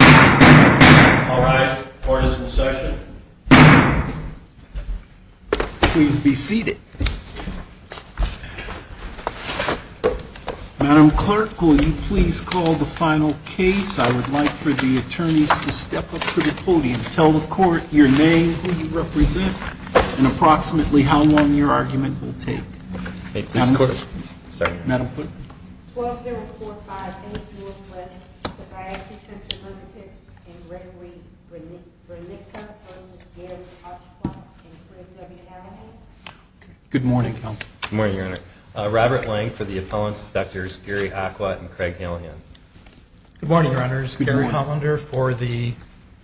All rise. Court is in session. Please be seated. Madam Clerk, will you please call the final case. I would like for the attorneys to step up to the podium. Tell the court your name, who you represent, and approximately how long your argument will take. 12-045-8 Northwest Podiatry Center, Ltd. v. Gregory Brniska v. Gary Ochwat and Craig Halian. Good morning, Counsel. Good morning, Your Honor. Robert Lang for the appellants, Drs. Gary Ochwat and Craig Halian. Good morning, Your Honors. Gary Hollander for the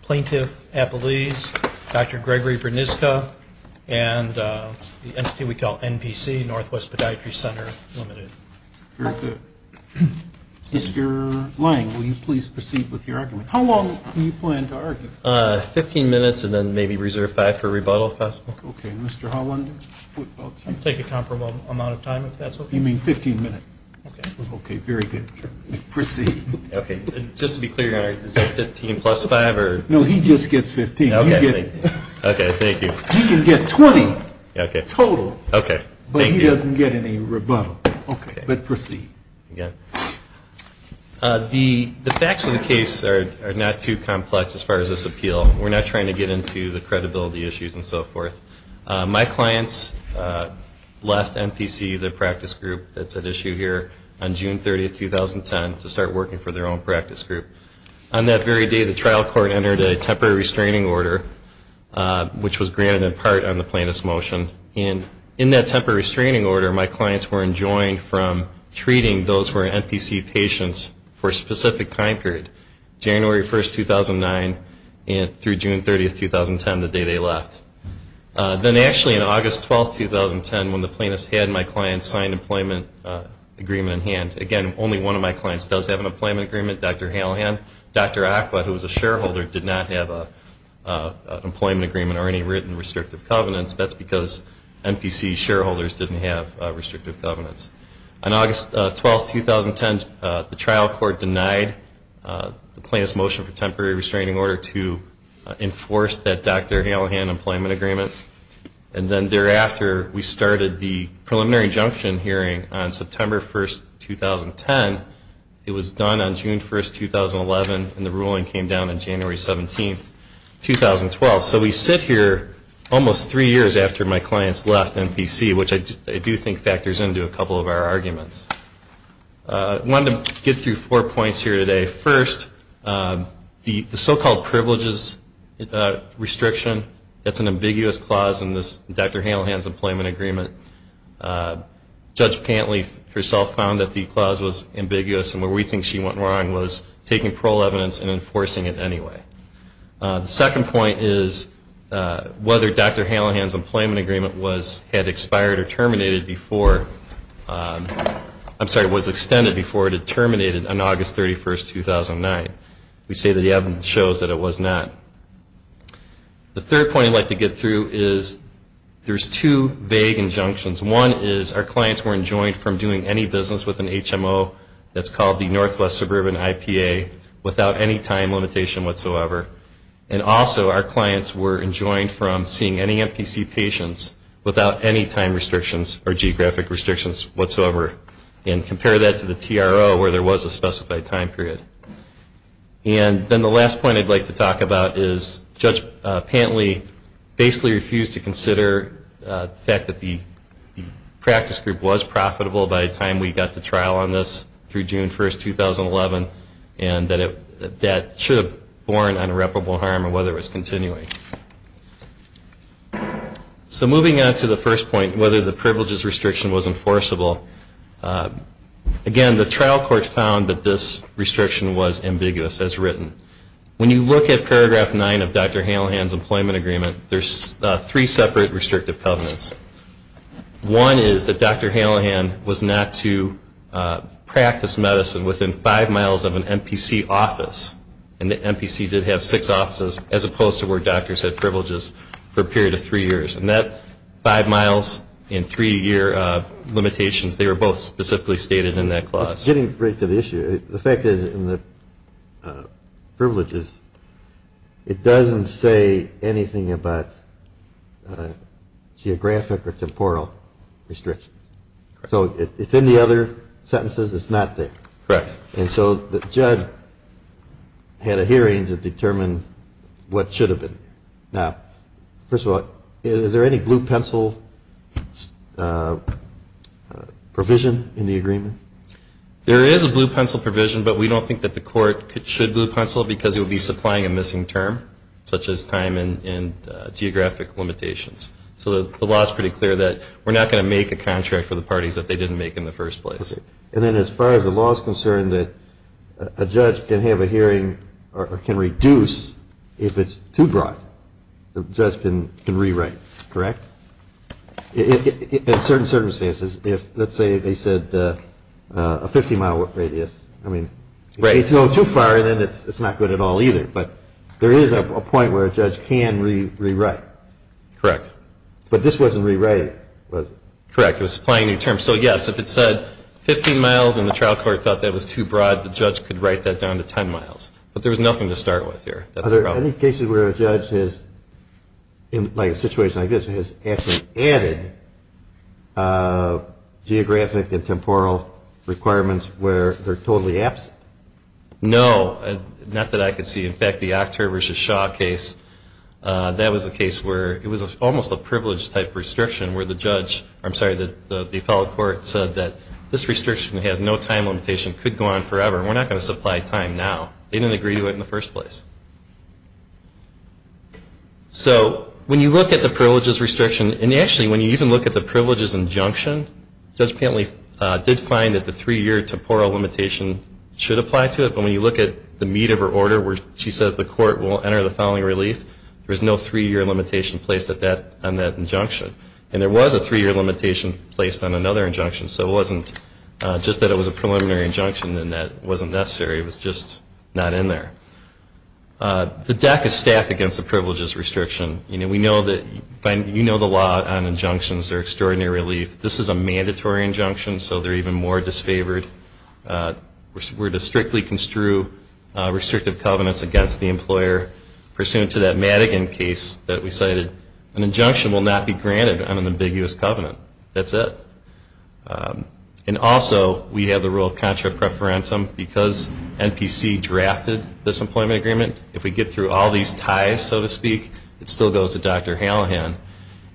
plaintiff, Apolise, Dr. Gregory Brniska, and the entity we call NPC, Northwest Podiatry Center, Ltd. Very good. Mr. Lang, will you please proceed with your argument. How long do you plan to argue? Fifteen minutes and then maybe reserve five for rebuttal, if possible. Okay. Mr. Hollander? I'll take a comparable amount of time, if that's okay. You mean fifteen minutes? Okay. Okay, very good. Proceed. Okay. Just to be clear, is that fifteen plus five, or? No, he just gets fifteen. Okay, thank you. He can get twenty total, but he doesn't get any rebuttal. But proceed. The facts of the case are not too complex as far as this appeal. We're not trying to get into the credibility issues and so forth. My clients left NPC, the practice group that's at issue here, on June 30, 2010, to start working for their own practice group. On that very day, the trial court entered a temporary restraining order, which was granted in part on the plaintiff's motion. And in that temporary restraining order, my clients were enjoined from treating those who were NPC patients for a specific time period, January 1, 2009, through June 30, 2010, the day they left. Then actually, on August 12, 2010, when the plaintiff's had my client sign an employment agreement in hand, again, only one of my clients does have an employment agreement, Dr. Halahan. Dr. Aqued, who was a shareholder, did not have an employment agreement or any written restrictive covenants. That's because NPC shareholders didn't have restrictive covenants. On August 12, 2010, the trial court denied the plaintiff's motion for temporary restraining order to enforce that Dr. Halahan employment agreement. And then thereafter, we started the preliminary injunction hearing on September 1, 2010. It was done on June 1, 2011, and the ruling came down on January 17, 2012. So we sit here almost three years after my clients left NPC, which I do think factors into a couple of our arguments. I wanted to get through four points here today. First, the so-called privileges restriction, that's an ambiguous clause in this Dr. Halahan's employment agreement. Judge Pantley herself found that the clause was ambiguous, and where we think she went wrong was taking parole evidence and enforcing it anyway. The second point is whether Dr. Halahan's employment agreement had expired or terminated before, I'm sorry, was extended before it had terminated on August 31, 2009. We say that the evidence shows that it was not. The third point I'd like to get through is there's two vague injunctions. One is our clients were enjoined from doing any business with an HMO that's called the Northwest Suburban IPA without any time limitation whatsoever. And also, our clients were enjoined from seeing any NPC patients without any time restrictions or geographic restrictions whatsoever, and compare that to the TRO where there was a specified time period. And then the last point I'd like to talk about is Judge Pantley basically refused to consider the fact that the practice group was profitable by the time we got to trial on this through June 1, 2011, and that it should have borne irreparable harm or whether it was continuing. So moving on to the first point, whether the privileges restriction was enforceable, again, the trial court found that this restriction was ambiguous as written. When you look at paragraph 9 of Dr. Halahan's employment agreement, there's three separate restrictive covenants. One is that Dr. Halahan was not to practice medicine within five miles of an NPC office, and the NPC did have six offices as opposed to where doctors had privileges for a period of three years. And that five miles and three-year limitations, they were both specifically stated in that clause. Getting right to the issue, the fact is in the privileges, it doesn't say anything about geographic or temporal restrictions. So it's in the other sentences. It's not there. Correct. And so the judge had a hearing to determine what should have been. Now, first of all, is there any blue-pencil provision in the agreement? There is a blue-pencil provision, but we don't think that the court should blue-pencil because it would be supplying a missing term, such as time and geographic limitations. So the law is pretty clear that we're not going to make a contract for the parties that they didn't make in the first place. Okay. And then as far as the law is concerned, that a judge can have a hearing or can reduce if it's too broad, the judge can rewrite, correct? In certain circumstances, if, let's say, they said a 50-mile radius, I mean, if it's a little too far, then it's not good at all either. But there is a point where a judge can rewrite. Correct. But this wasn't rewriting, was it? Correct. It was supplying a new term. So, yes, if it said 15 miles and the trial court thought that was too broad, the judge could write that down to 10 miles. But there was nothing to start with here. Are there any cases where a judge has, in a situation like this, has actually added geographic and temporal requirements where they're totally absent? No. Not that I could see. In fact, the October v. Shaw case, that was a case where it was almost a privilege-type restriction where the judge or, I'm sorry, the appellate court said that this restriction has no time limitation, could go on forever, and we're not going to supply time now. They didn't agree to it in the first place. So when you look at the privileges restriction, and actually when you even look at the privileges injunction, Judge Pantley did find that the three-year temporal limitation should apply to it. But when you look at the meat of her order where she says the court will enter the following relief, there was no three-year limitation placed on that injunction. And there was a three-year limitation placed on another injunction, so it wasn't just that it was a preliminary injunction and that wasn't necessary. It was just not in there. The deck is stacked against the privileges restriction. You know the law on injunctions. They're extraordinary relief. This is a mandatory injunction, so they're even more disfavored. We're to strictly construe restrictive covenants against the employer. Pursuant to that Madigan case that we cited, an injunction will not be granted on an ambiguous covenant. That's it. And also we have the rule of contra preferentum because NPC drafted this employment agreement. If we get through all these ties, so to speak, it still goes to Dr. Hallahan.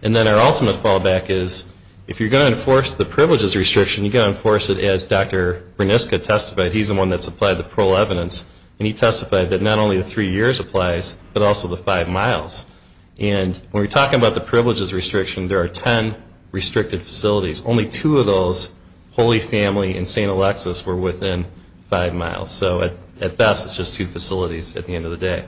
And then our ultimate fallback is if you're going to enforce the privileges restriction, you've got to enforce it as Dr. Berniska testified. He's the one that supplied the parole evidence, and he testified that not only the three years applies but also the five miles. And when we're talking about the privileges restriction, there are ten restricted facilities. Only two of those, Holy Family and St. Alexis, were within five miles. So at best it's just two facilities at the end of the day.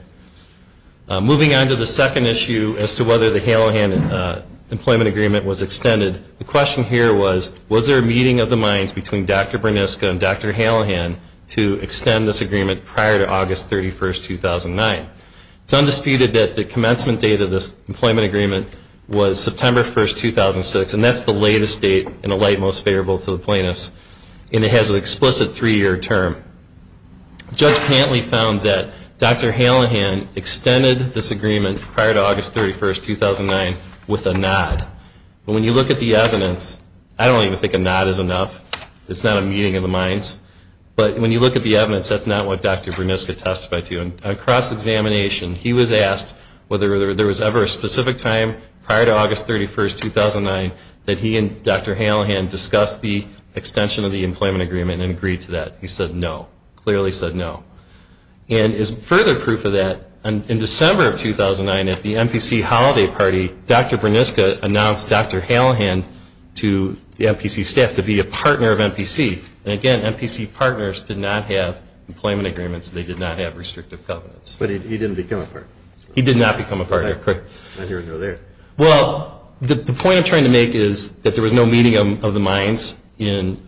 Moving on to the second issue as to whether the Hallahan employment agreement was extended, the question here was, was there a meeting of the minds between Dr. Berniska and Dr. Hallahan to extend this agreement prior to August 31, 2009? It's undisputed that the commencement date of this employment agreement was September 1, 2006, and that's the latest date and the light most favorable to the plaintiffs, and it has an explicit three-year term. Judge Pantley found that Dr. Hallahan extended this agreement prior to August 31, 2009 with a nod. But when you look at the evidence, I don't even think a nod is enough. It's not a meeting of the minds. But when you look at the evidence, that's not what Dr. Berniska testified to. On cross-examination, he was asked whether there was ever a specific time prior to August 31, 2009 that he and Dr. Hallahan discussed the extension of the employment agreement and agreed to that. He said no, clearly said no. And as further proof of that, in December of 2009 at the NPC holiday party, Dr. Berniska announced Dr. Hallahan to the NPC staff to be a partner of NPC. And again, NPC partners did not have employment agreements. They did not have restrictive covenants. But he didn't become a partner? He did not become a partner, correct. I didn't even know that. Well, the point I'm trying to make is that there was no meeting of the minds on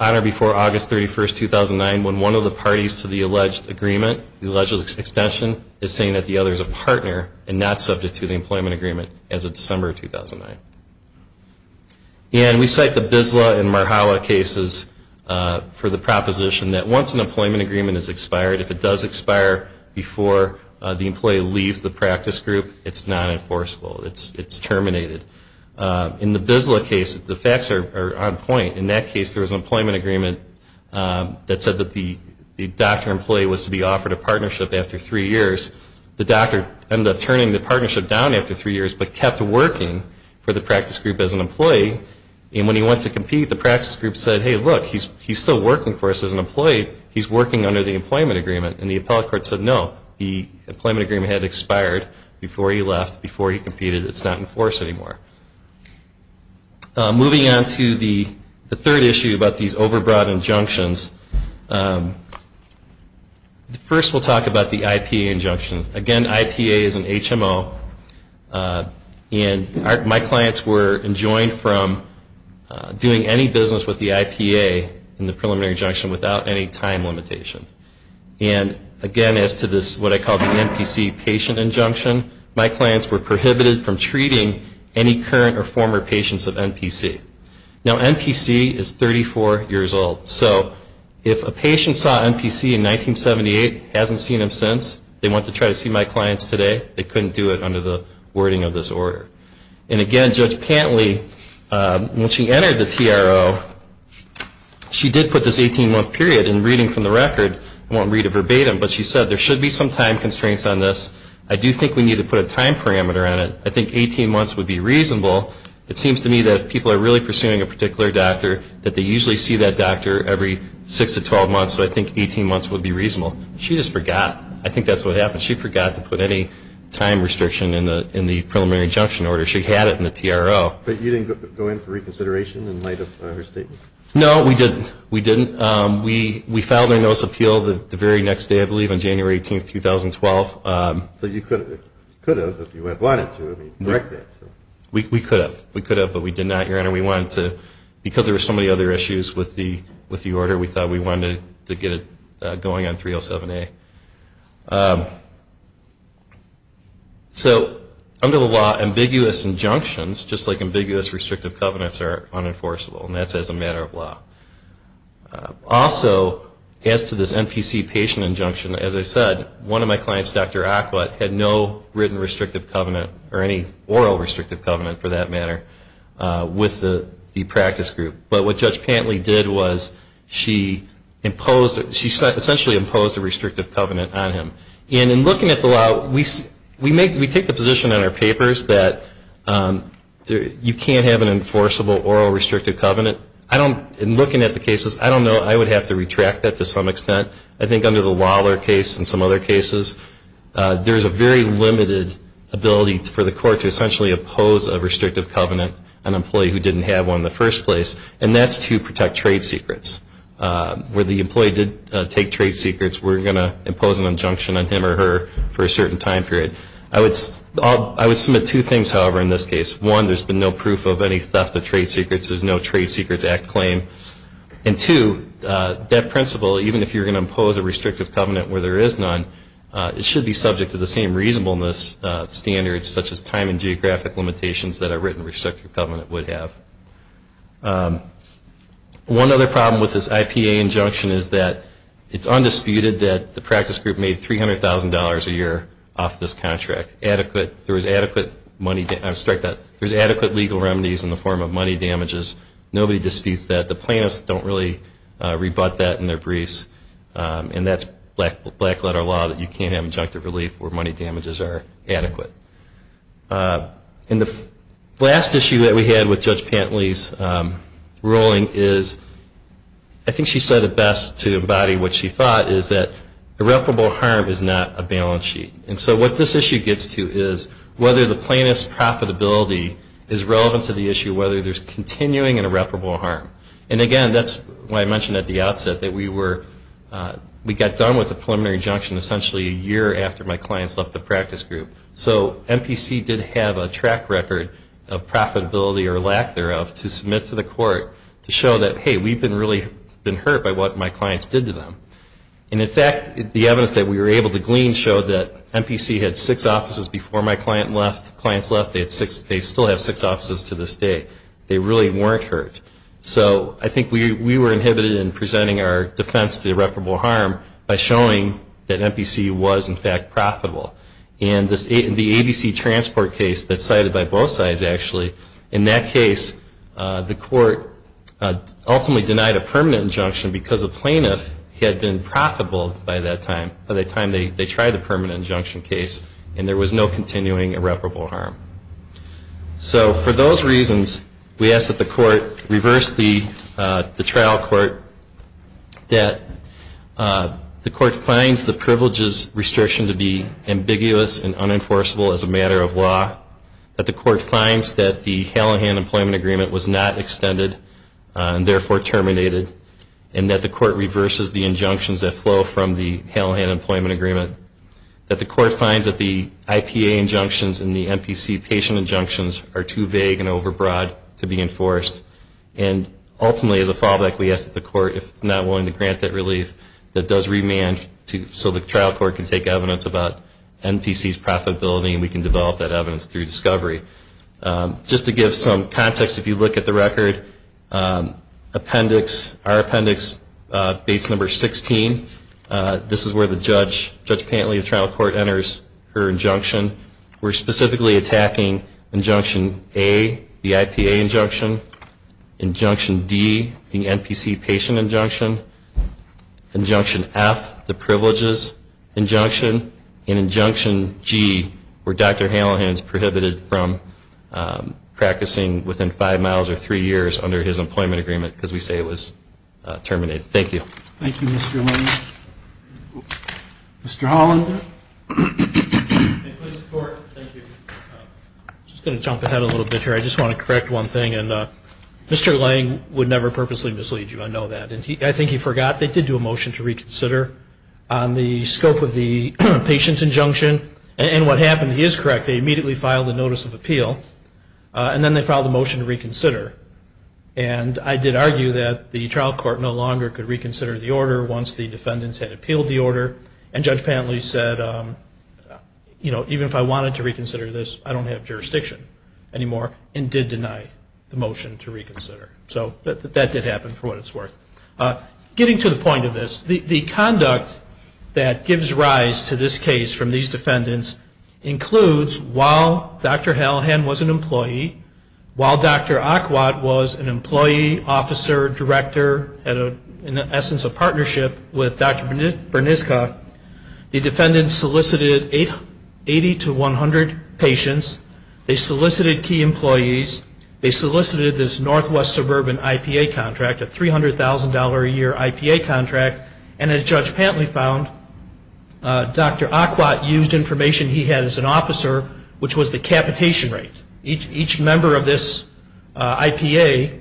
or before August 31, 2009 when one of the parties to the alleged agreement, the alleged extension, is saying that the other is a partner and not subject to the employment agreement as of December 2009. And we cite the Bisla and Marhala cases for the proposition that once an employment agreement is expired, if it does expire before the employee leaves the practice group, it's non-enforceable. It's terminated. In the Bisla case, the facts are on point. In that case, there was an employment agreement that said that the doctor employee was to be offered a partnership after three years. The doctor ended up turning the partnership down after three years but kept working for the practice group as an employee. And when he went to compete, the practice group said, hey, look, he's still working for us as an employee. He's working under the employment agreement. And the appellate court said, no, the employment agreement had expired before he left, before he competed. It's not enforced anymore. Moving on to the third issue about these overbroad injunctions. First we'll talk about the IPA injunction. Again, IPA is an HMO. And my clients were enjoined from doing any business with the IPA in the preliminary injunction without any time limitation. And, again, as to this, what I call the NPC patient injunction, my clients were prohibited from treating any current or former patients of NPC. Now, NPC is 34 years old. So if a patient saw NPC in 1978, hasn't seen him since, they want to try to see my clients today, they couldn't do it under the wording of this order. And, again, Judge Pantley, when she entered the TRO, she did put this 18-month period. And reading from the record, I won't read it verbatim, but she said there should be some time constraints on this. I do think we need to put a time parameter on it. I think 18 months would be reasonable. It seems to me that if people are really pursuing a particular doctor, that they usually see that doctor every 6 to 12 months. So I think 18 months would be reasonable. She just forgot. I think that's what happened. She forgot to put any time restriction in the preliminary injunction order. She had it in the TRO. But you didn't go in for reconsideration in light of her statement? No, we didn't. We didn't. We filed a notice of appeal the very next day, I believe, on January 18, 2012. But you could have if you had wanted to. We could have, but we did not. Your Honor, because there were so many other issues with the order, we thought we wanted to get it going on 307A. So under the law, ambiguous injunctions, just like ambiguous restrictive covenants, are unenforceable, and that's as a matter of law. Also, as to this NPC patient injunction, as I said, one of my clients, Dr. Aquit, had no written restrictive covenant or any oral restrictive covenant, for that matter, with the practice group. But what Judge Pantley did was she imposed, she essentially imposed a restrictive covenant on him. And in looking at the law, we take the position in our papers that you can't have an enforceable oral restrictive covenant. In looking at the cases, I don't know. I would have to retract that to some extent. I think under the Lawler case and some other cases, there's a very limited ability for the court to essentially oppose a restrictive covenant, an employee who didn't have one in the first place, and that's to protect trade secrets. Where the employee did take trade secrets, we're going to impose an injunction on him or her for a certain time period. I would submit two things, however, in this case. One, there's been no proof of any theft of trade secrets. There's no Trade Secrets Act claim. And two, that principle, even if you're going to impose a restrictive covenant where there is none, it should be subject to the same reasonableness standards, such as time and geographic limitations that a written restrictive covenant would have. One other problem with this IPA injunction is that it's undisputed that the practice group made $300,000 a year off this contract. There was adequate legal remedies in the form of money damages. Nobody disputes that. The plaintiffs don't really rebut that in their briefs, and that's black letter law that you can't have injunctive relief where money damages are adequate. And the last issue that we had with Judge Pantley's ruling is, I think she said it best to embody what she thought, is that irreparable harm is not a balance sheet. And so what this issue gets to is whether the plaintiff's profitability is relevant to the issue, whether there's continuing and irreparable harm. And, again, that's why I mentioned at the outset that we got done with the preliminary injunction essentially a year after my clients left the practice group. So MPC did have a track record of profitability or lack thereof to submit to the court to show that, hey, we've been really hurt by what my clients did to them. And, in fact, the evidence that we were able to glean showed that MPC had six offices before my client left. They still have six offices to this day. They really weren't hurt. So I think we were inhibited in presenting our defense to irreparable harm by showing that MPC was, in fact, profitable. And the ABC transport case that's cited by both sides, actually, in that case, the court ultimately denied a permanent injunction because the plaintiff had been profitable by that time, they tried the permanent injunction case, and there was no continuing irreparable harm. So for those reasons, we ask that the court reverse the trial court, that the court finds the privileges restriction to be ambiguous and unenforceable as a matter of law, that the court finds that the Halahan Employment Agreement was not extended and, therefore, terminated, and that the court reverses the injunctions that flow from the Halahan Employment Agreement, that the court finds that the IPA injunctions and the MPC patient injunctions are too vague and overbroad to be enforced. And, ultimately, as a fallback, we ask that the court, if it's not willing to grant that relief, that it does remand so the trial court can take evidence about MPC's profitability and we can develop that evidence through discovery. Just to give some context, if you look at the record, our appendix, base number 16, this is where Judge Pantley, the trial court, enters her injunction. We're specifically attacking injunction A, the IPA injunction, injunction D, the MPC patient injunction, injunction F, the privileges injunction, and injunction G, where Dr. Halahan is prohibited from practicing within five miles or three years under his employment agreement because we say it was terminated. Thank you. Thank you, Mr. Lang. Mr. Hollander. Thank you. I'm just going to jump ahead a little bit here. I just want to correct one thing, and Mr. Lang would never purposely mislead you. I know that. I think he forgot they did do a motion to reconsider on the scope of the patient's injunction. And what happened, he is correct, they immediately filed a notice of appeal, and then they filed a motion to reconsider. And I did argue that the trial court no longer could reconsider the order once the defendants had appealed the order. And Judge Pantley said, you know, even if I wanted to reconsider this, I don't have jurisdiction anymore, and did deny the motion to reconsider. So that did happen, for what it's worth. Getting to the point of this, the conduct that gives rise to this case from these defendants includes while Dr. Halahan was an employee, while Dr. Aquat was an employee, officer, director, in essence a partnership with Dr. Berniska, the defendants solicited 80 to 100 patients. They solicited key employees. They solicited this Northwest Suburban IPA contract, a $300,000 a year IPA contract. And as Judge Pantley found, Dr. Aquat used information he had as an officer, which was the capitation rate. Each member of this IPA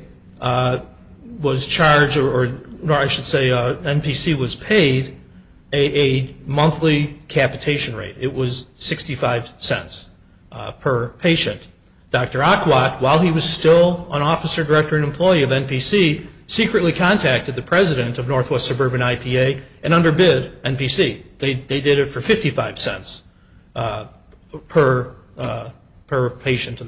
was charged, or I should say, NPC was paid a monthly capitation rate. It was 65 cents per patient. Dr. Aquat, while he was still an officer, director, and employee of NPC, secretly contacted the president of Northwest Suburban IPA and underbid NPC. They did it for 55 cents per patient.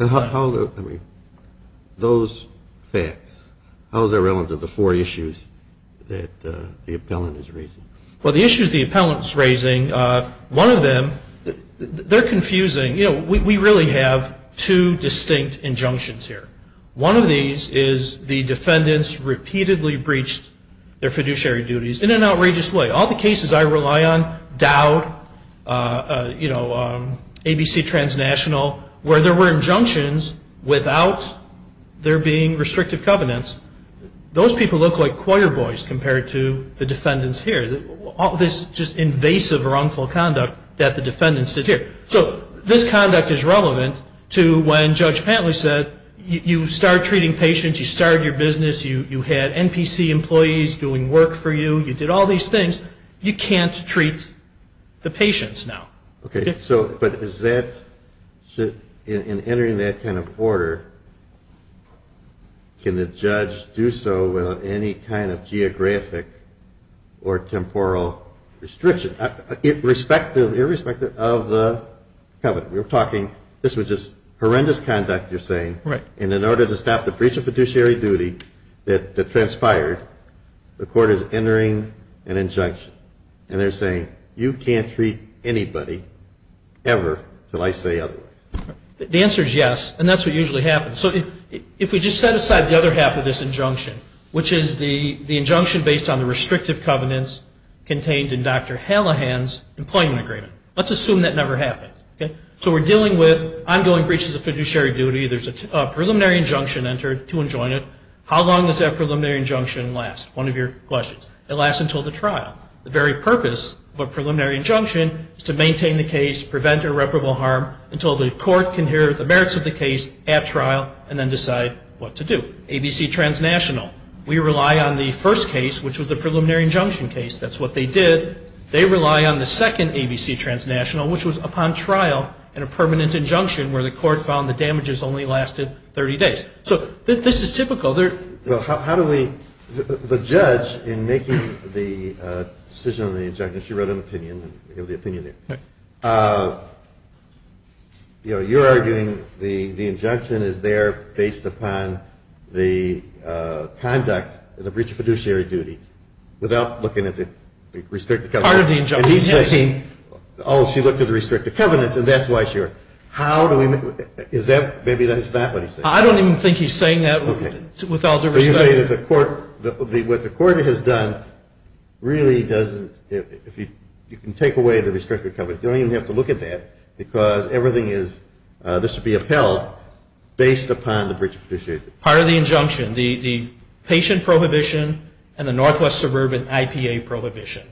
Those facts, how is that relevant to the four issues that the appellant is raising? Well, the issues the appellant is raising, one of them, they're confusing. You know, we really have two distinct injunctions here. One of these is the defendants repeatedly breached their fiduciary duties in an outrageous way. All the cases I rely on, Dowd, you know, ABC Transnational, where there were injunctions without there being restrictive covenants, those people look like choir boys compared to the defendants here. All this just invasive wrongful conduct that the defendants did here. So this conduct is relevant to when Judge Pantley said you start treating patients, you started your business, you had NPC employees doing work for you, you did all these things, you can't treat the patients now. Okay, so but is that, in entering that kind of order, can the judge do so without any kind of geographic or temporal restriction? Irrespective of the covenant. We were talking this was just horrendous conduct, you're saying. Right. And in order to stop the breach of fiduciary duty that transpired, the court is entering an injunction. And they're saying you can't treat anybody ever until I say otherwise. The answer is yes, and that's what usually happens. So if we just set aside the other half of this injunction, which is the injunction based on the restrictive covenants contained in Dr. Hallahan's employment agreement, let's assume that never happened. So we're dealing with ongoing breaches of fiduciary duty. There's a preliminary injunction entered to enjoin it. How long does that preliminary injunction last? One of your questions. It lasts until the trial. The very purpose of a preliminary injunction is to maintain the case, prevent irreparable harm until the court can hear the merits of the case at trial and then decide what to do. ABC Transnational, we rely on the first case, which was the preliminary injunction case. That's what they did. They rely on the second ABC Transnational, which was upon trial in a permanent injunction where the court found the damages only lasted 30 days. So this is typical. Well, how do we – the judge in making the decision on the injunction, she wrote an opinion and gave the opinion there. Right. You know, you're arguing the injunction is there based upon the conduct of the breach of fiduciary duty without looking at the restricted covenants. Part of the injunction. And he's saying, oh, she looked at the restricted covenants, and that's why she wrote it. How do we make – is that – maybe that's not what he's saying. I don't even think he's saying that with all due respect. Okay. So you're saying that the court – what the court has done really doesn't – if you can take away the restricted covenants, you don't even have to look at that because everything is – this would be upheld based upon the breach of fiduciary duty. Part of the injunction, the patient prohibition and the Northwest Suburban IPA prohibition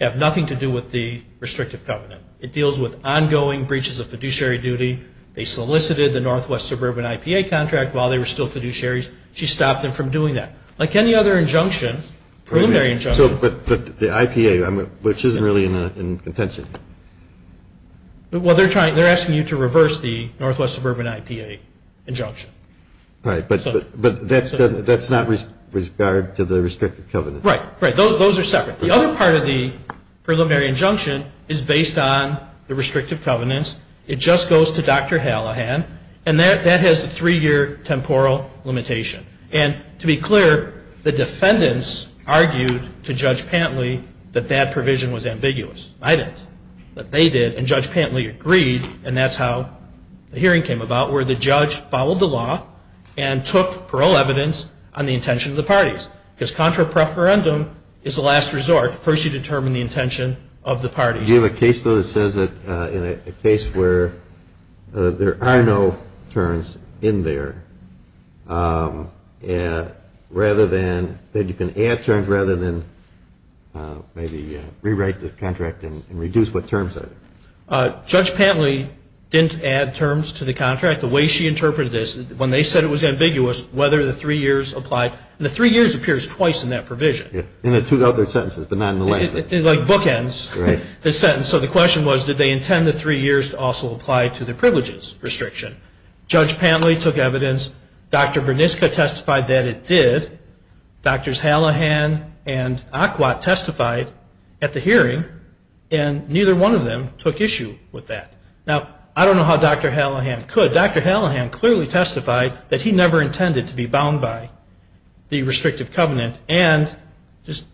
have nothing to do with the restrictive covenant. It deals with ongoing breaches of fiduciary duty. They solicited the Northwest Suburban IPA contract while they were still fiduciaries. She stopped them from doing that. Like any other injunction, preliminary injunction. So – but the IPA, which isn't really in contention. Well, they're trying – they're asking you to reverse the Northwest Suburban IPA injunction. Right. But that's not with regard to the restrictive covenant. Right. Right. Those are separate. The other part of the preliminary injunction is based on the restrictive covenants. It just goes to Dr. Hallahan, and that has a three-year temporal limitation. And to be clear, the defendants argued to Judge Pantley that that provision was ambiguous. I didn't. But they did, and Judge Pantley agreed, and that's how the hearing came about, where the judge followed the law and took parole evidence on the intention of the parties. Because contra preferendum is the last resort. First you determine the intention of the parties. Do you have a case, though, that says that in a case where there are no terms in there, rather than – that you can add terms rather than maybe rewrite the contract and reduce what terms are there? Judge Pantley didn't add terms to the contract. The way she interpreted this, when they said it was ambiguous, whether the three years applied. And the three years appears twice in that provision. In the two other sentences, but nonetheless. It's like bookends, this sentence. So the question was, did they intend the three years to also apply to the privileges restriction? Judge Pantley took evidence. Dr. Berniska testified that it did. Drs. Hallahan and Aquat testified at the hearing, and neither one of them took issue with that. Now, I don't know how Dr. Hallahan could. Dr. Hallahan clearly testified that he never intended to be bound by the restrictive covenant and just,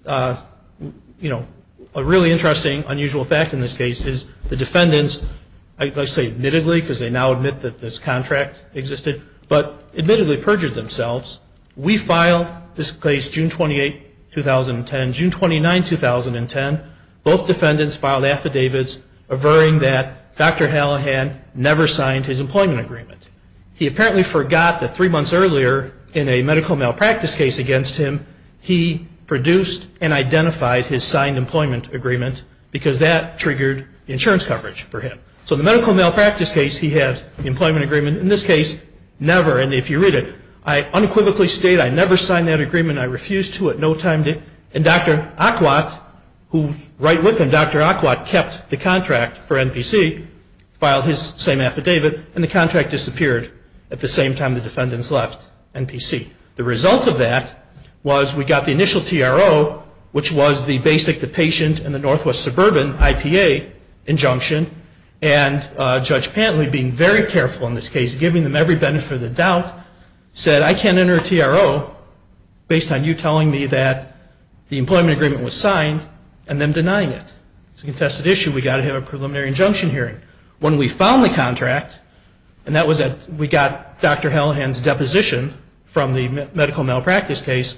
you know, a really interesting, unusual fact in this case is the defendants, I say admittedly because they now admit that this contract existed, but admittedly perjured themselves. We filed this case June 28, 2010. June 29, 2010, both defendants filed affidavits averring that Dr. Hallahan never signed his employment agreement. He apparently forgot that three months earlier in a medical malpractice case against him, he produced and identified his signed employment agreement because that triggered insurance coverage for him. So the medical malpractice case, he had the employment agreement. In this case, never, and if you read it, I unequivocally state I never signed that agreement. I refused to at no time. And Dr. Aquat, who's right with him, Dr. Aquat kept the contract for NPC, filed his same affidavit, and the contract disappeared at the same time the defendants left NPC. The result of that was we got the initial TRO, which was the basic, the patient, and the Northwest Suburban IPA injunction, and Judge Pantley, being very careful in this case, giving them every benefit of the doubt, said, I can't enter a TRO based on you telling me that the employment agreement was signed and them denying it. It's a contested issue. We've got to have a preliminary injunction hearing. When we found the contract, and that was we got Dr. Hallahan's deposition from the medical malpractice case,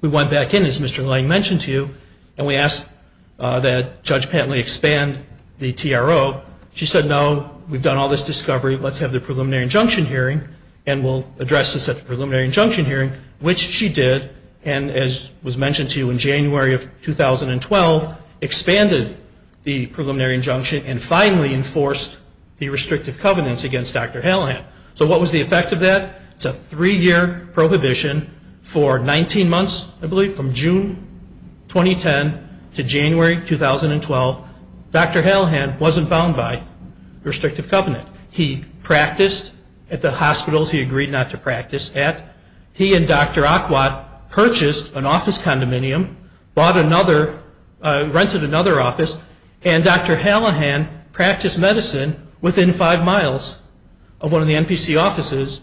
we went back in, as Mr. Lang mentioned to you, and we asked that Judge Pantley expand the TRO. She said, no, we've done all this discovery. Let's have the preliminary injunction hearing, and we'll address this at the preliminary injunction hearing, which she did, and as was mentioned to you, in January of 2012, expanded the preliminary injunction and finally enforced the restrictive covenants against Dr. Hallahan. So what was the effect of that? It's a three-year prohibition for 19 months, I believe, from June 2010 to January 2012. Dr. Hallahan wasn't bound by restrictive covenant. He practiced at the hospitals he agreed not to practice at. He and Dr. Aquat purchased an office condominium, bought another, rented another office, and Dr. Hallahan practiced medicine within five miles of one of the NPC offices,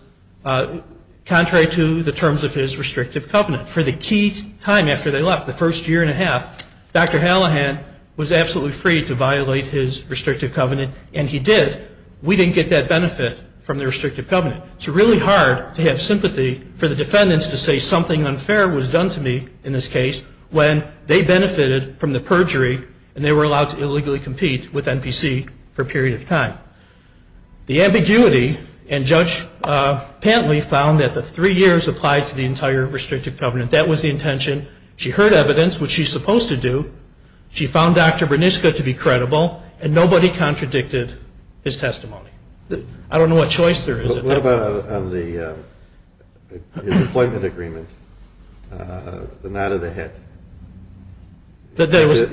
contrary to the terms of his restrictive covenant. For the key time after they left, the first year and a half, Dr. Hallahan was absolutely free to violate his restrictive covenant, and he did. We didn't get that benefit from the restrictive covenant. It's really hard to have sympathy for the defendants to say something unfair was done to me in this case when they benefited from the perjury and they were allowed to illegally compete with NPC for a period of time. The ambiguity, and Judge Pantley found that the three years applied to the entire restrictive covenant. That was the intention. She heard evidence, which she's supposed to do. She found Dr. Berniska to be credible, and nobody contradicted his testimony. I don't know what choice there is. What about on the employment agreement, the nod of the head? He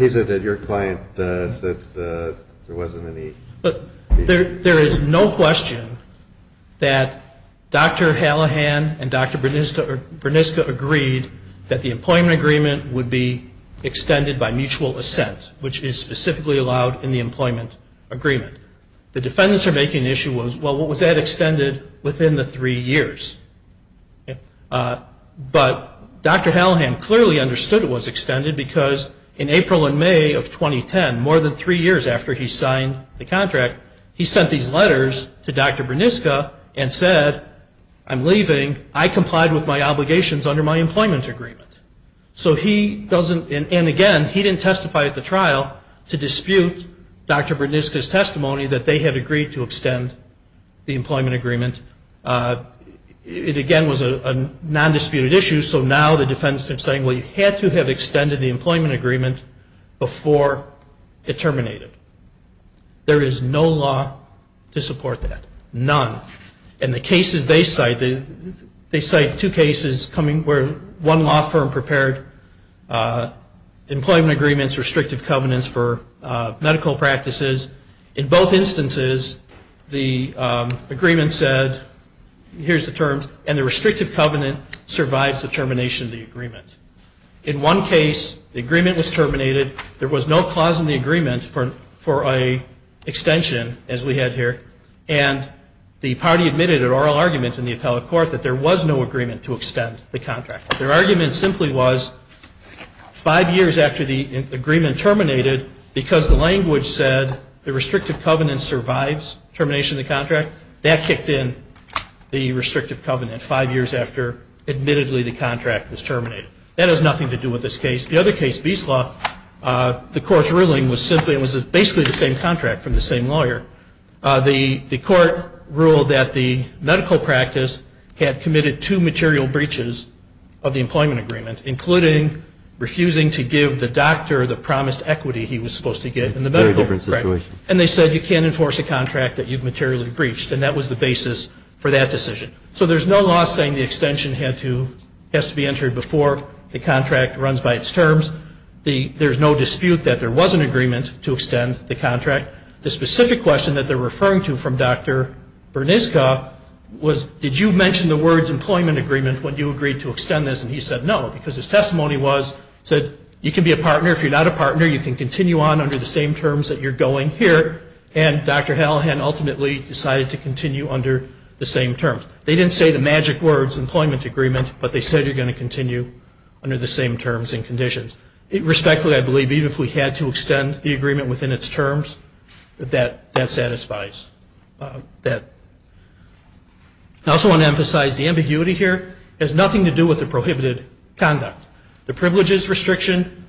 said that your client said there wasn't any. There is no question that Dr. Hallahan and Dr. Berniska agreed that the employment agreement would be extended by mutual assent, which is specifically allowed in the employment agreement. The defendants are making the issue, well, was that extended within the three years? But Dr. Hallahan clearly understood it was extended because in April and May of 2010, more than three years after he signed the contract, he sent these letters to Dr. Berniska and said, I'm leaving. I complied with my obligations under my employment agreement. And, again, he didn't testify at the trial to dispute Dr. Berniska's testimony that they had agreed to extend the employment agreement. It, again, was a non-disputed issue, so now the defendants are saying, well, you had to have extended the employment agreement before it terminated. There is no law to support that, none. And the cases they cite, they cite two cases where one law firm prepared employment agreements, restrictive covenants for medical practices. In both instances, the agreement said, here's the terms, and the restrictive covenant survives the termination of the agreement. In one case, the agreement was terminated. There was no clause in the agreement for an extension, as we had here, and the party admitted an oral argument in the appellate court that there was no agreement to extend the contract. Their argument simply was five years after the agreement terminated, because the language said the restrictive covenant survives termination of the contract, that kicked in the restrictive covenant five years after, admittedly, the contract was terminated. That has nothing to do with this case. The other case, Bieslaw, the court's ruling was simply, it was basically the same contract from the same lawyer. The court ruled that the medical practice had committed two material breaches of the employment agreement, including refusing to give the doctor the promised equity he was supposed to get in the medical practice. And they said, you can't enforce a contract that you've materially breached. And that was the basis for that decision. So there's no law saying the extension has to be entered before the contract runs by its terms. There's no dispute that there was an agreement to extend the contract. The specific question that they're referring to from Dr. Berniska was, did you mention the words employment agreement when you agreed to extend this? And he said no, because his testimony was, he said, you can be a partner. If you're not a partner, you can continue on under the same terms that you're going here. And Dr. Hallahan ultimately decided to continue under the same terms. They didn't say the magic words, employment agreement, but they said you're going to continue under the same terms and conditions. Respectfully, I believe even if we had to extend the agreement within its terms, that that satisfies that. I also want to emphasize the ambiguity here has nothing to do with the prohibited conduct. The privileges restriction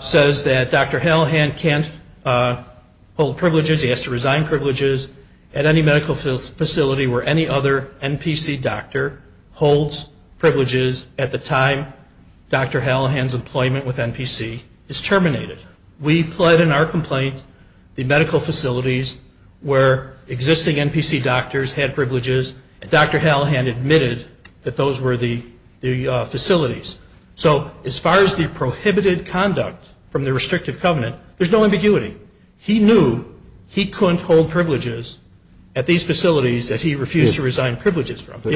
says that Dr. Hallahan can't hold privileges, he has to resign privileges at any medical facility where any other NPC doctor holds privileges at the time Dr. Hallahan's employment with NPC is terminated. We pled in our complaint the medical facilities where existing NPC doctors had privileges, and Dr. Hallahan admitted that those were the facilities. So as far as the prohibited conduct from the restrictive covenant, there's no ambiguity. He knew he couldn't hold privileges at these facilities that he refused to resign privileges from. But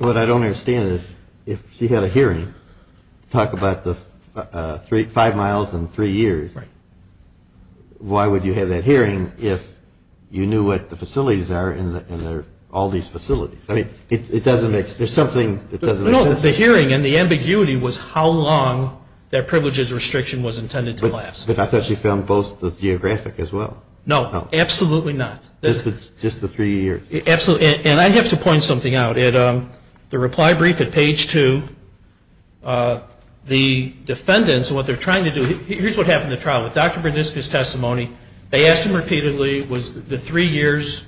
what I don't understand is if she had a hearing to talk about the five miles and three years, why would you have that hearing if you knew what the facilities are in all these facilities? There's something that doesn't make sense. No, the hearing and the ambiguity was how long that privileges restriction was intended to last. But I thought she found both the geographic as well. No, absolutely not. Just the three years. Absolutely. And I have to point something out. The reply brief at page two, the defendants, what they're trying to do, here's what happened at trial. With Dr. Berniska's testimony, they asked him repeatedly, was the three years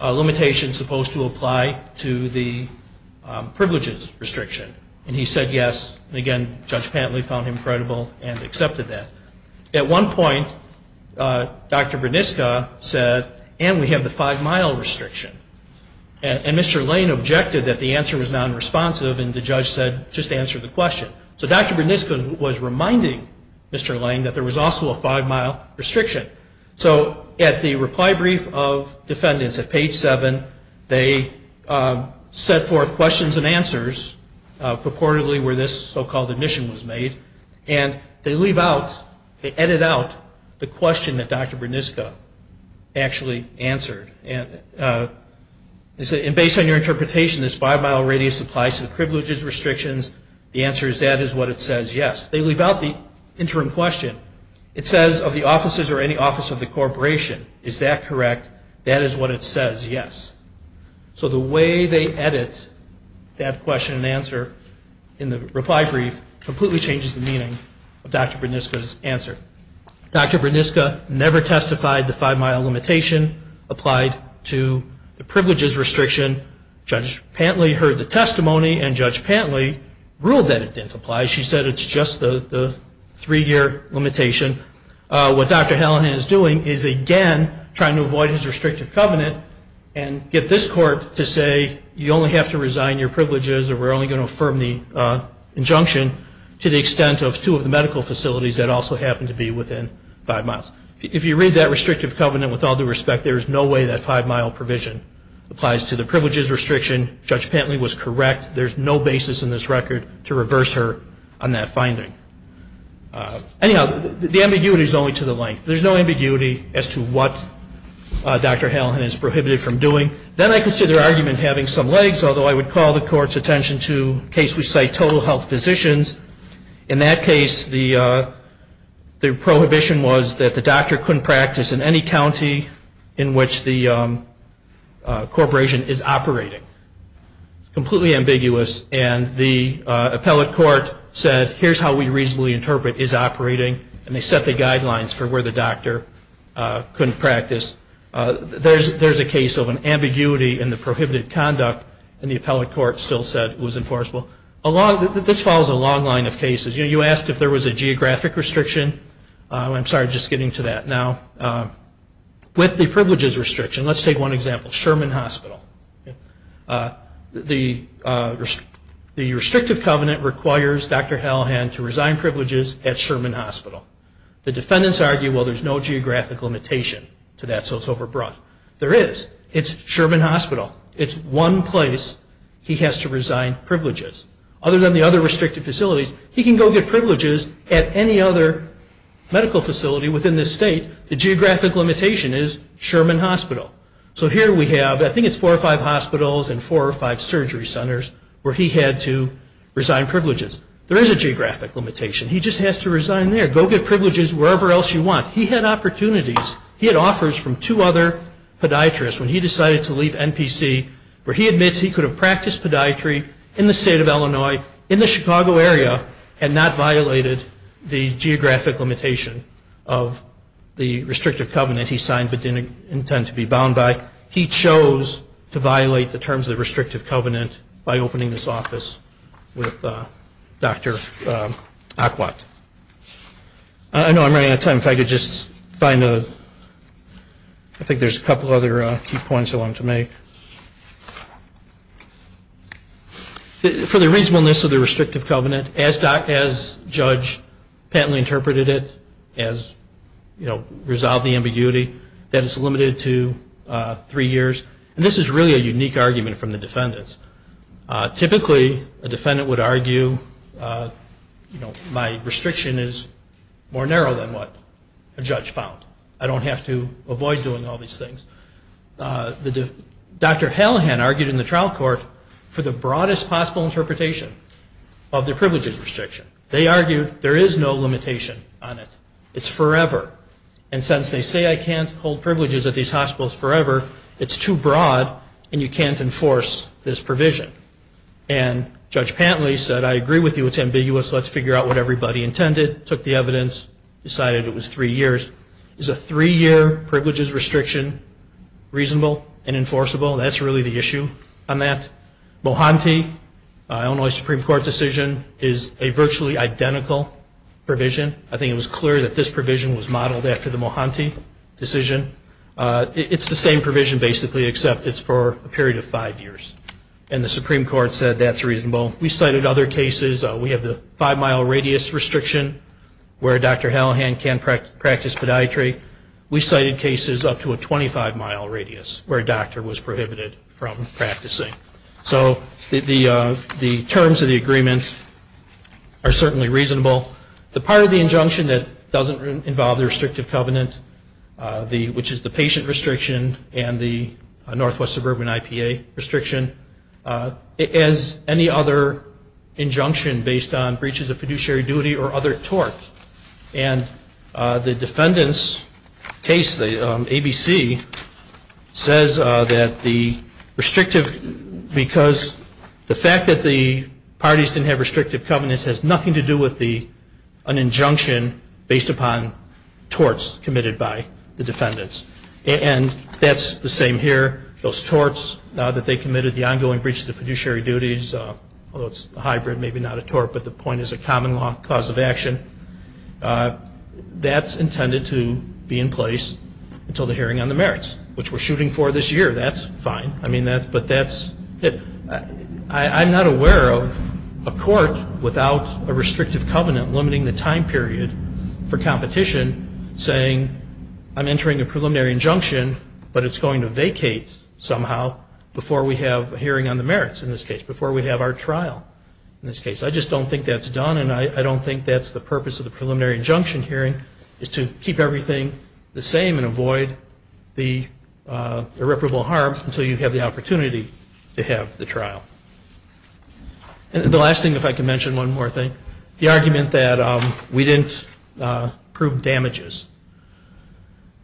limitation supposed to apply to the privileges restriction? And he said yes. And again, Judge Pantley found him credible and accepted that. At one point, Dr. Berniska said, and we have the five mile restriction. And Mr. Lane objected that the answer was nonresponsive, and the judge said, just answer the question. So Dr. Berniska was reminding Mr. Lane that there was also a five mile restriction. So at the reply brief of defendants at page seven, they set forth questions and answers, purportedly where this so-called admission was made. And they leave out, they edit out the question that Dr. Berniska actually answered. And based on your interpretation, this five mile radius applies to the privileges restrictions. The answer is that is what it says, yes. They leave out the interim question. It says of the offices or any office of the corporation, is that correct? That is what it says, yes. So the way they edit that question and answer in the reply brief completely changes the meaning of Dr. Berniska's answer. Dr. Berniska never testified the five mile limitation applied to the privileges restriction. Judge Pantley heard the testimony, and Judge Pantley ruled that it didn't apply. She said it's just the three year limitation. What Dr. Hallinan is doing is again trying to avoid his restrictive covenant and get this court to say you only have to resign your privileges or we're only going to affirm the injunction to the extent of two of the medical facilities that also happen to be within five miles. If you read that restrictive covenant with all due respect, there is no way that five mile provision applies to the privileges restriction. Judge Pantley was correct. There's no basis in this record to reverse her on that finding. Anyhow, the ambiguity is only to the length. There's no ambiguity as to what Dr. Hallinan is prohibited from doing. Then I consider her argument having some legs, although I would call the court's attention to cases which cite total health physicians. In that case, the prohibition was that the doctor couldn't practice in any county in which the corporation is operating. Completely ambiguous and the appellate court said here's how we reasonably interpret is operating and they set the guidelines for where the doctor couldn't practice. There's a case of an ambiguity in the prohibited conduct and the appellate court still said it was enforceable. This follows a long line of cases. You asked if there was a geographic restriction. I'm sorry, just getting to that now. With the privileges restriction, let's take one example, Sherman Hospital. The restrictive covenant requires Dr. Hallinan to resign privileges at Sherman Hospital. The defendants argue, well, there's no geographic limitation to that, so it's overbrought. There is. It's Sherman Hospital. It's one place he has to resign privileges. Other than the other restricted facilities, he can go get privileges at any other medical facility within this state. The geographic limitation is Sherman Hospital. So here we have, I think it's four or five hospitals and four or five surgery centers where he had to resign privileges. There is a geographic limitation. He just has to resign there. Go get privileges wherever else you want. He had opportunities. He had offers from two other podiatrists when he decided to leave NPC where he admits he could have practiced podiatry in the state of Illinois, in the Chicago area, and not violated the geographic limitation of the restrictive covenant he signed but didn't intend to be bound by. He chose to violate the terms of the restrictive covenant by opening this office with Dr. Aquat. I know I'm running out of time. If I could just find a – I think there's a couple other key points I wanted to make. For the reasonableness of the restrictive covenant, as Judge Pantley interpreted it, as resolve the ambiguity, that is limited to three years. And this is really a unique argument from the defendants. Typically, a defendant would argue my restriction is more narrow than what a judge found. I don't have to avoid doing all these things. Dr. Hallahan argued in the trial court for the broadest possible interpretation of the privileges restriction. They argued there is no limitation on it. It's forever. And since they say I can't hold privileges at these hospitals forever, it's too broad and you can't enforce this provision. And Judge Pantley said, I agree with you. It's ambiguous. Let's figure out what everybody intended, took the evidence, decided it was three years. Is a three-year privileges restriction reasonable and enforceable? That's really the issue on that. Mohanty, an Illinois Supreme Court decision, is a virtually identical provision. I think it was clear that this provision was modeled after the Mohanty decision. It's the same provision, basically, except it's for a period of five years. And the Supreme Court said that's reasonable. We cited other cases. We have the five-mile radius restriction where Dr. Hallahan can practice podiatry. We cited cases up to a 25-mile radius where a doctor was prohibited from practicing. So the terms of the agreement are certainly reasonable. The part of the injunction that doesn't involve the restrictive covenant, which is the patient restriction and the Northwest Suburban IPA restriction, is any other injunction based on breaches of fiduciary duty or other torts. And the defendant's case, the ABC, says that the restrictive, because the fact that the parties didn't have restrictive covenants has nothing to do with an injunction based upon torts committed by the defendants. And that's the same here. Those torts that they committed, the ongoing breach of the fiduciary duties, although it's a hybrid, maybe not a tort, but the point is a common cause of action, that's intended to be in place until the hearing on the merits, which we're shooting for this year. That's fine. I mean, but that's it. I'm not aware of a court without a restrictive covenant limiting the time period for competition saying I'm entering a preliminary injunction, but it's going to vacate somehow before we have a hearing on the merits in this case, before we have our trial in this case. I just don't think that's done, and I don't think that's the purpose of the preliminary injunction hearing, is to keep everything the same and avoid the irreparable harm until you have the opportunity to have the trial. And the last thing, if I can mention one more thing, the argument that we didn't prove damages.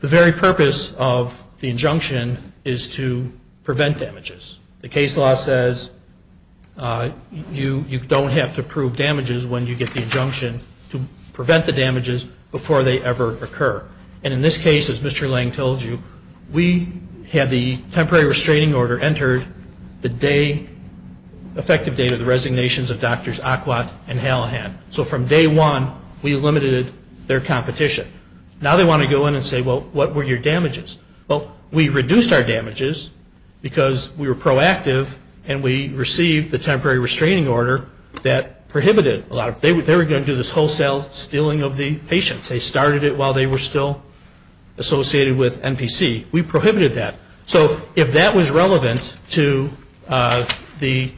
The very purpose of the injunction is to prevent damages. The case law says you don't have to prove damages when you get the injunction to prevent the damages before they ever occur. And in this case, as Mr. Lang told you, we had the temporary restraining order entered the day, effective date of the resignations of Drs. Aquat and Halahan. So from day one, we limited their competition. Now they want to go in and say, well, what were your damages? Well, we reduced our damages because we were proactive and we received the temporary restraining order that prohibited. They were going to do this wholesale stealing of the patients. They started it while they were still associated with NPC. We prohibited that. So if that was relevant to the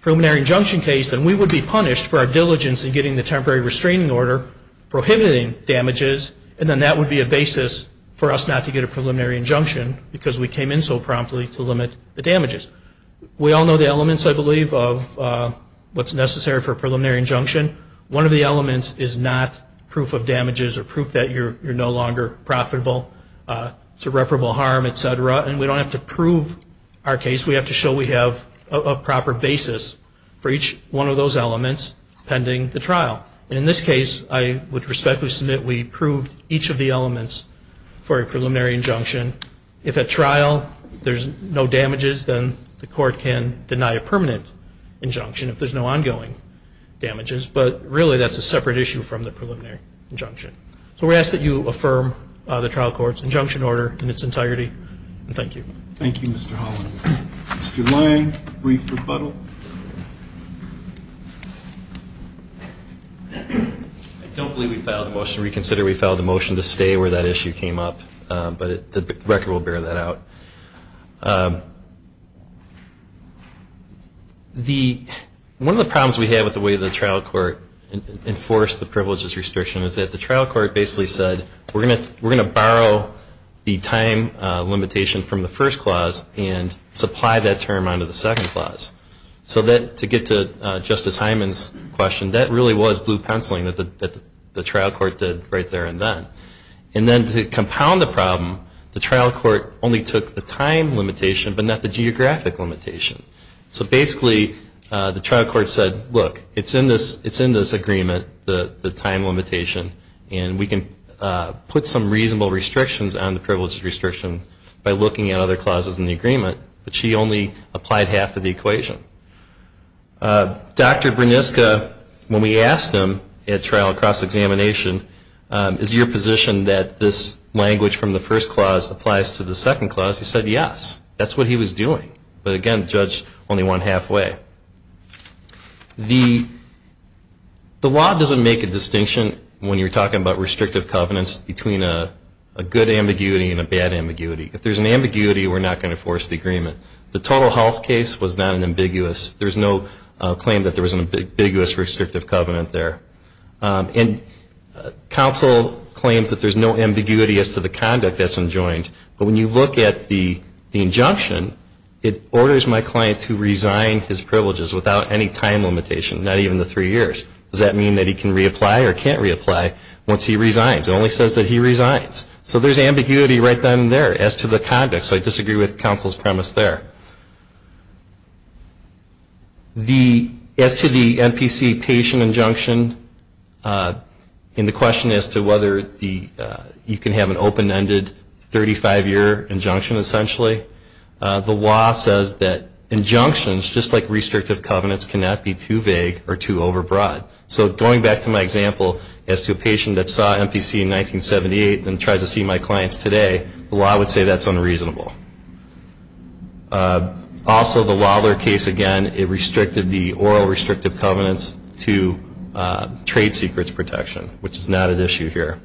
preliminary injunction case, then we would be punished for our diligence in getting the temporary restraining order prohibiting damages, and then that would be a basis for us not to get a preliminary injunction because we came in so promptly to limit the damages. We all know the elements, I believe, of what's necessary for a preliminary injunction. One of the elements is not proof of damages or proof that you're no longer profitable, irreparable harm, et cetera. And we don't have to prove our case. We have to show we have a proper basis for each one of those elements pending the trial. And in this case, I would respectfully submit we proved each of the elements for a preliminary injunction. If at trial there's no damages, then the court can deny a permanent injunction if there's no ongoing damages. But really that's a separate issue from the preliminary injunction. So we ask that you affirm the trial court's injunction order in its entirety, and thank you. Thank you, Mr. Holland. Mr. Lange, brief rebuttal. I don't believe we filed a motion to reconsider. We filed a motion to stay where that issue came up, but the record will bear that out. One of the problems we have with the way the trial court enforced the privileges restriction is that the trial court basically said we're going to borrow the time limitation from the first clause and supply that term onto the second clause. So to get to Justice Hyman's question, that really was blue penciling that the trial court did right there and then. And then to compound the problem, the trial court only took the time limitation but not the geographic limitation. So basically the trial court said, look, it's in this agreement, the time limitation, and we can put some reasonable restrictions on the privileges restriction by looking at other clauses in the agreement, but she only applied half of the equation. Dr. Berniska, when we asked him at trial cross-examination, is your position that this language from the first clause applies to the second clause? He said yes. That's what he was doing. But again, the judge only went halfway. The law doesn't make a distinction when you're talking about restrictive covenants between a good ambiguity and a bad ambiguity. If there's an ambiguity, we're not going to force the agreement. The total health case was not an ambiguous. There's no claim that there was an ambiguous restrictive covenant there. And counsel claims that there's no ambiguity as to the conduct that's enjoined. But when you look at the injunction, it orders my client to resign his privileges without any time limitation, not even the three years. Does that mean that he can reapply or can't reapply once he resigns? It only says that he resigns. So there's ambiguity right then and there as to the conduct. So I disagree with counsel's premise there. As to the NPC patient injunction and the question as to whether you can have an open-ended 35-year injunction, essentially, the law says that injunctions, just like restrictive covenants, cannot be too vague or too overbroad. So going back to my example as to a patient that saw NPC in 1978 and tries to see my clients today, the law would say that's unreasonable. Also, the Wilder case, again, it restricted the oral restrictive covenants to trade secrets protection, which is not at issue here.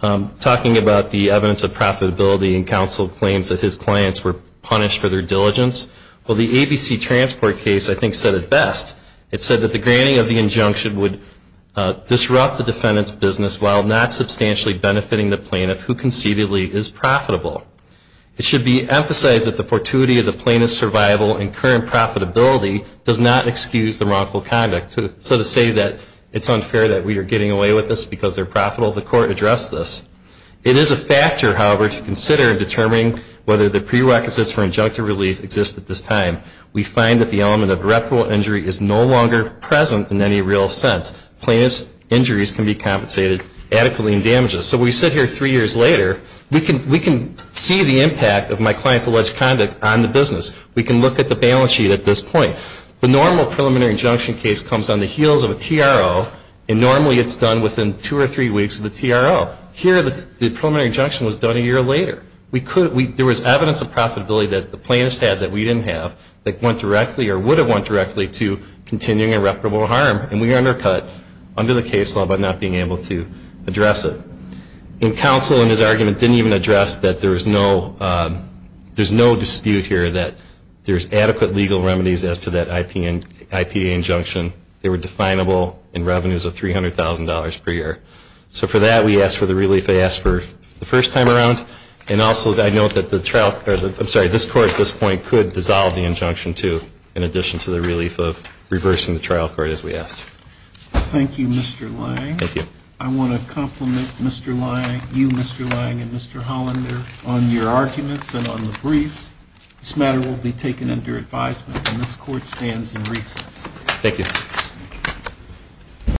Talking about the evidence of profitability, and counsel claims that his clients were punished for their diligence. Well, the ABC transport case, I think, said it best. It said that the granting of the injunction would disrupt the defendant's business while not substantially benefiting the plaintiff who conceivably is profitable. It should be emphasized that the fortuity of the plaintiff's survival and current profitability does not excuse the wrongful conduct. So to say that it's unfair that we are getting away with this because they're profitable, the court addressed this. It is a factor, however, to consider in determining whether the prerequisites for injunctive relief exist at this time. We find that the element of irreparable injury is no longer present in any real sense. Plaintiff's injuries can be compensated adequately in damages. So we sit here three years later. We can see the impact of my client's alleged conduct on the business. We can look at the balance sheet at this point. The normal preliminary injunction case comes on the heels of a TRO, and normally it's done within two or three weeks of the TRO. Here the preliminary injunction was done a year later. There was evidence of profitability that the plaintiff's had that we didn't have that went directly or would have went directly to continuing irreparable harm, and we are undercut under the case law by not being able to address it. And counsel in his argument didn't even address that there's no dispute here that there's adequate legal remedies as to that IPA injunction. They were definable in revenues of $300,000 per year. So for that we ask for the relief they asked for the first time around, and also I note that this court at this point could dissolve the injunction too in addition to the relief of reversing the trial court as we asked. Thank you, Mr. Lange. Thank you. I want to compliment you, Mr. Lange, and Mr. Hollander on your arguments and on the briefs. This matter will be taken under advisement, and this court stands in recess. Thank you.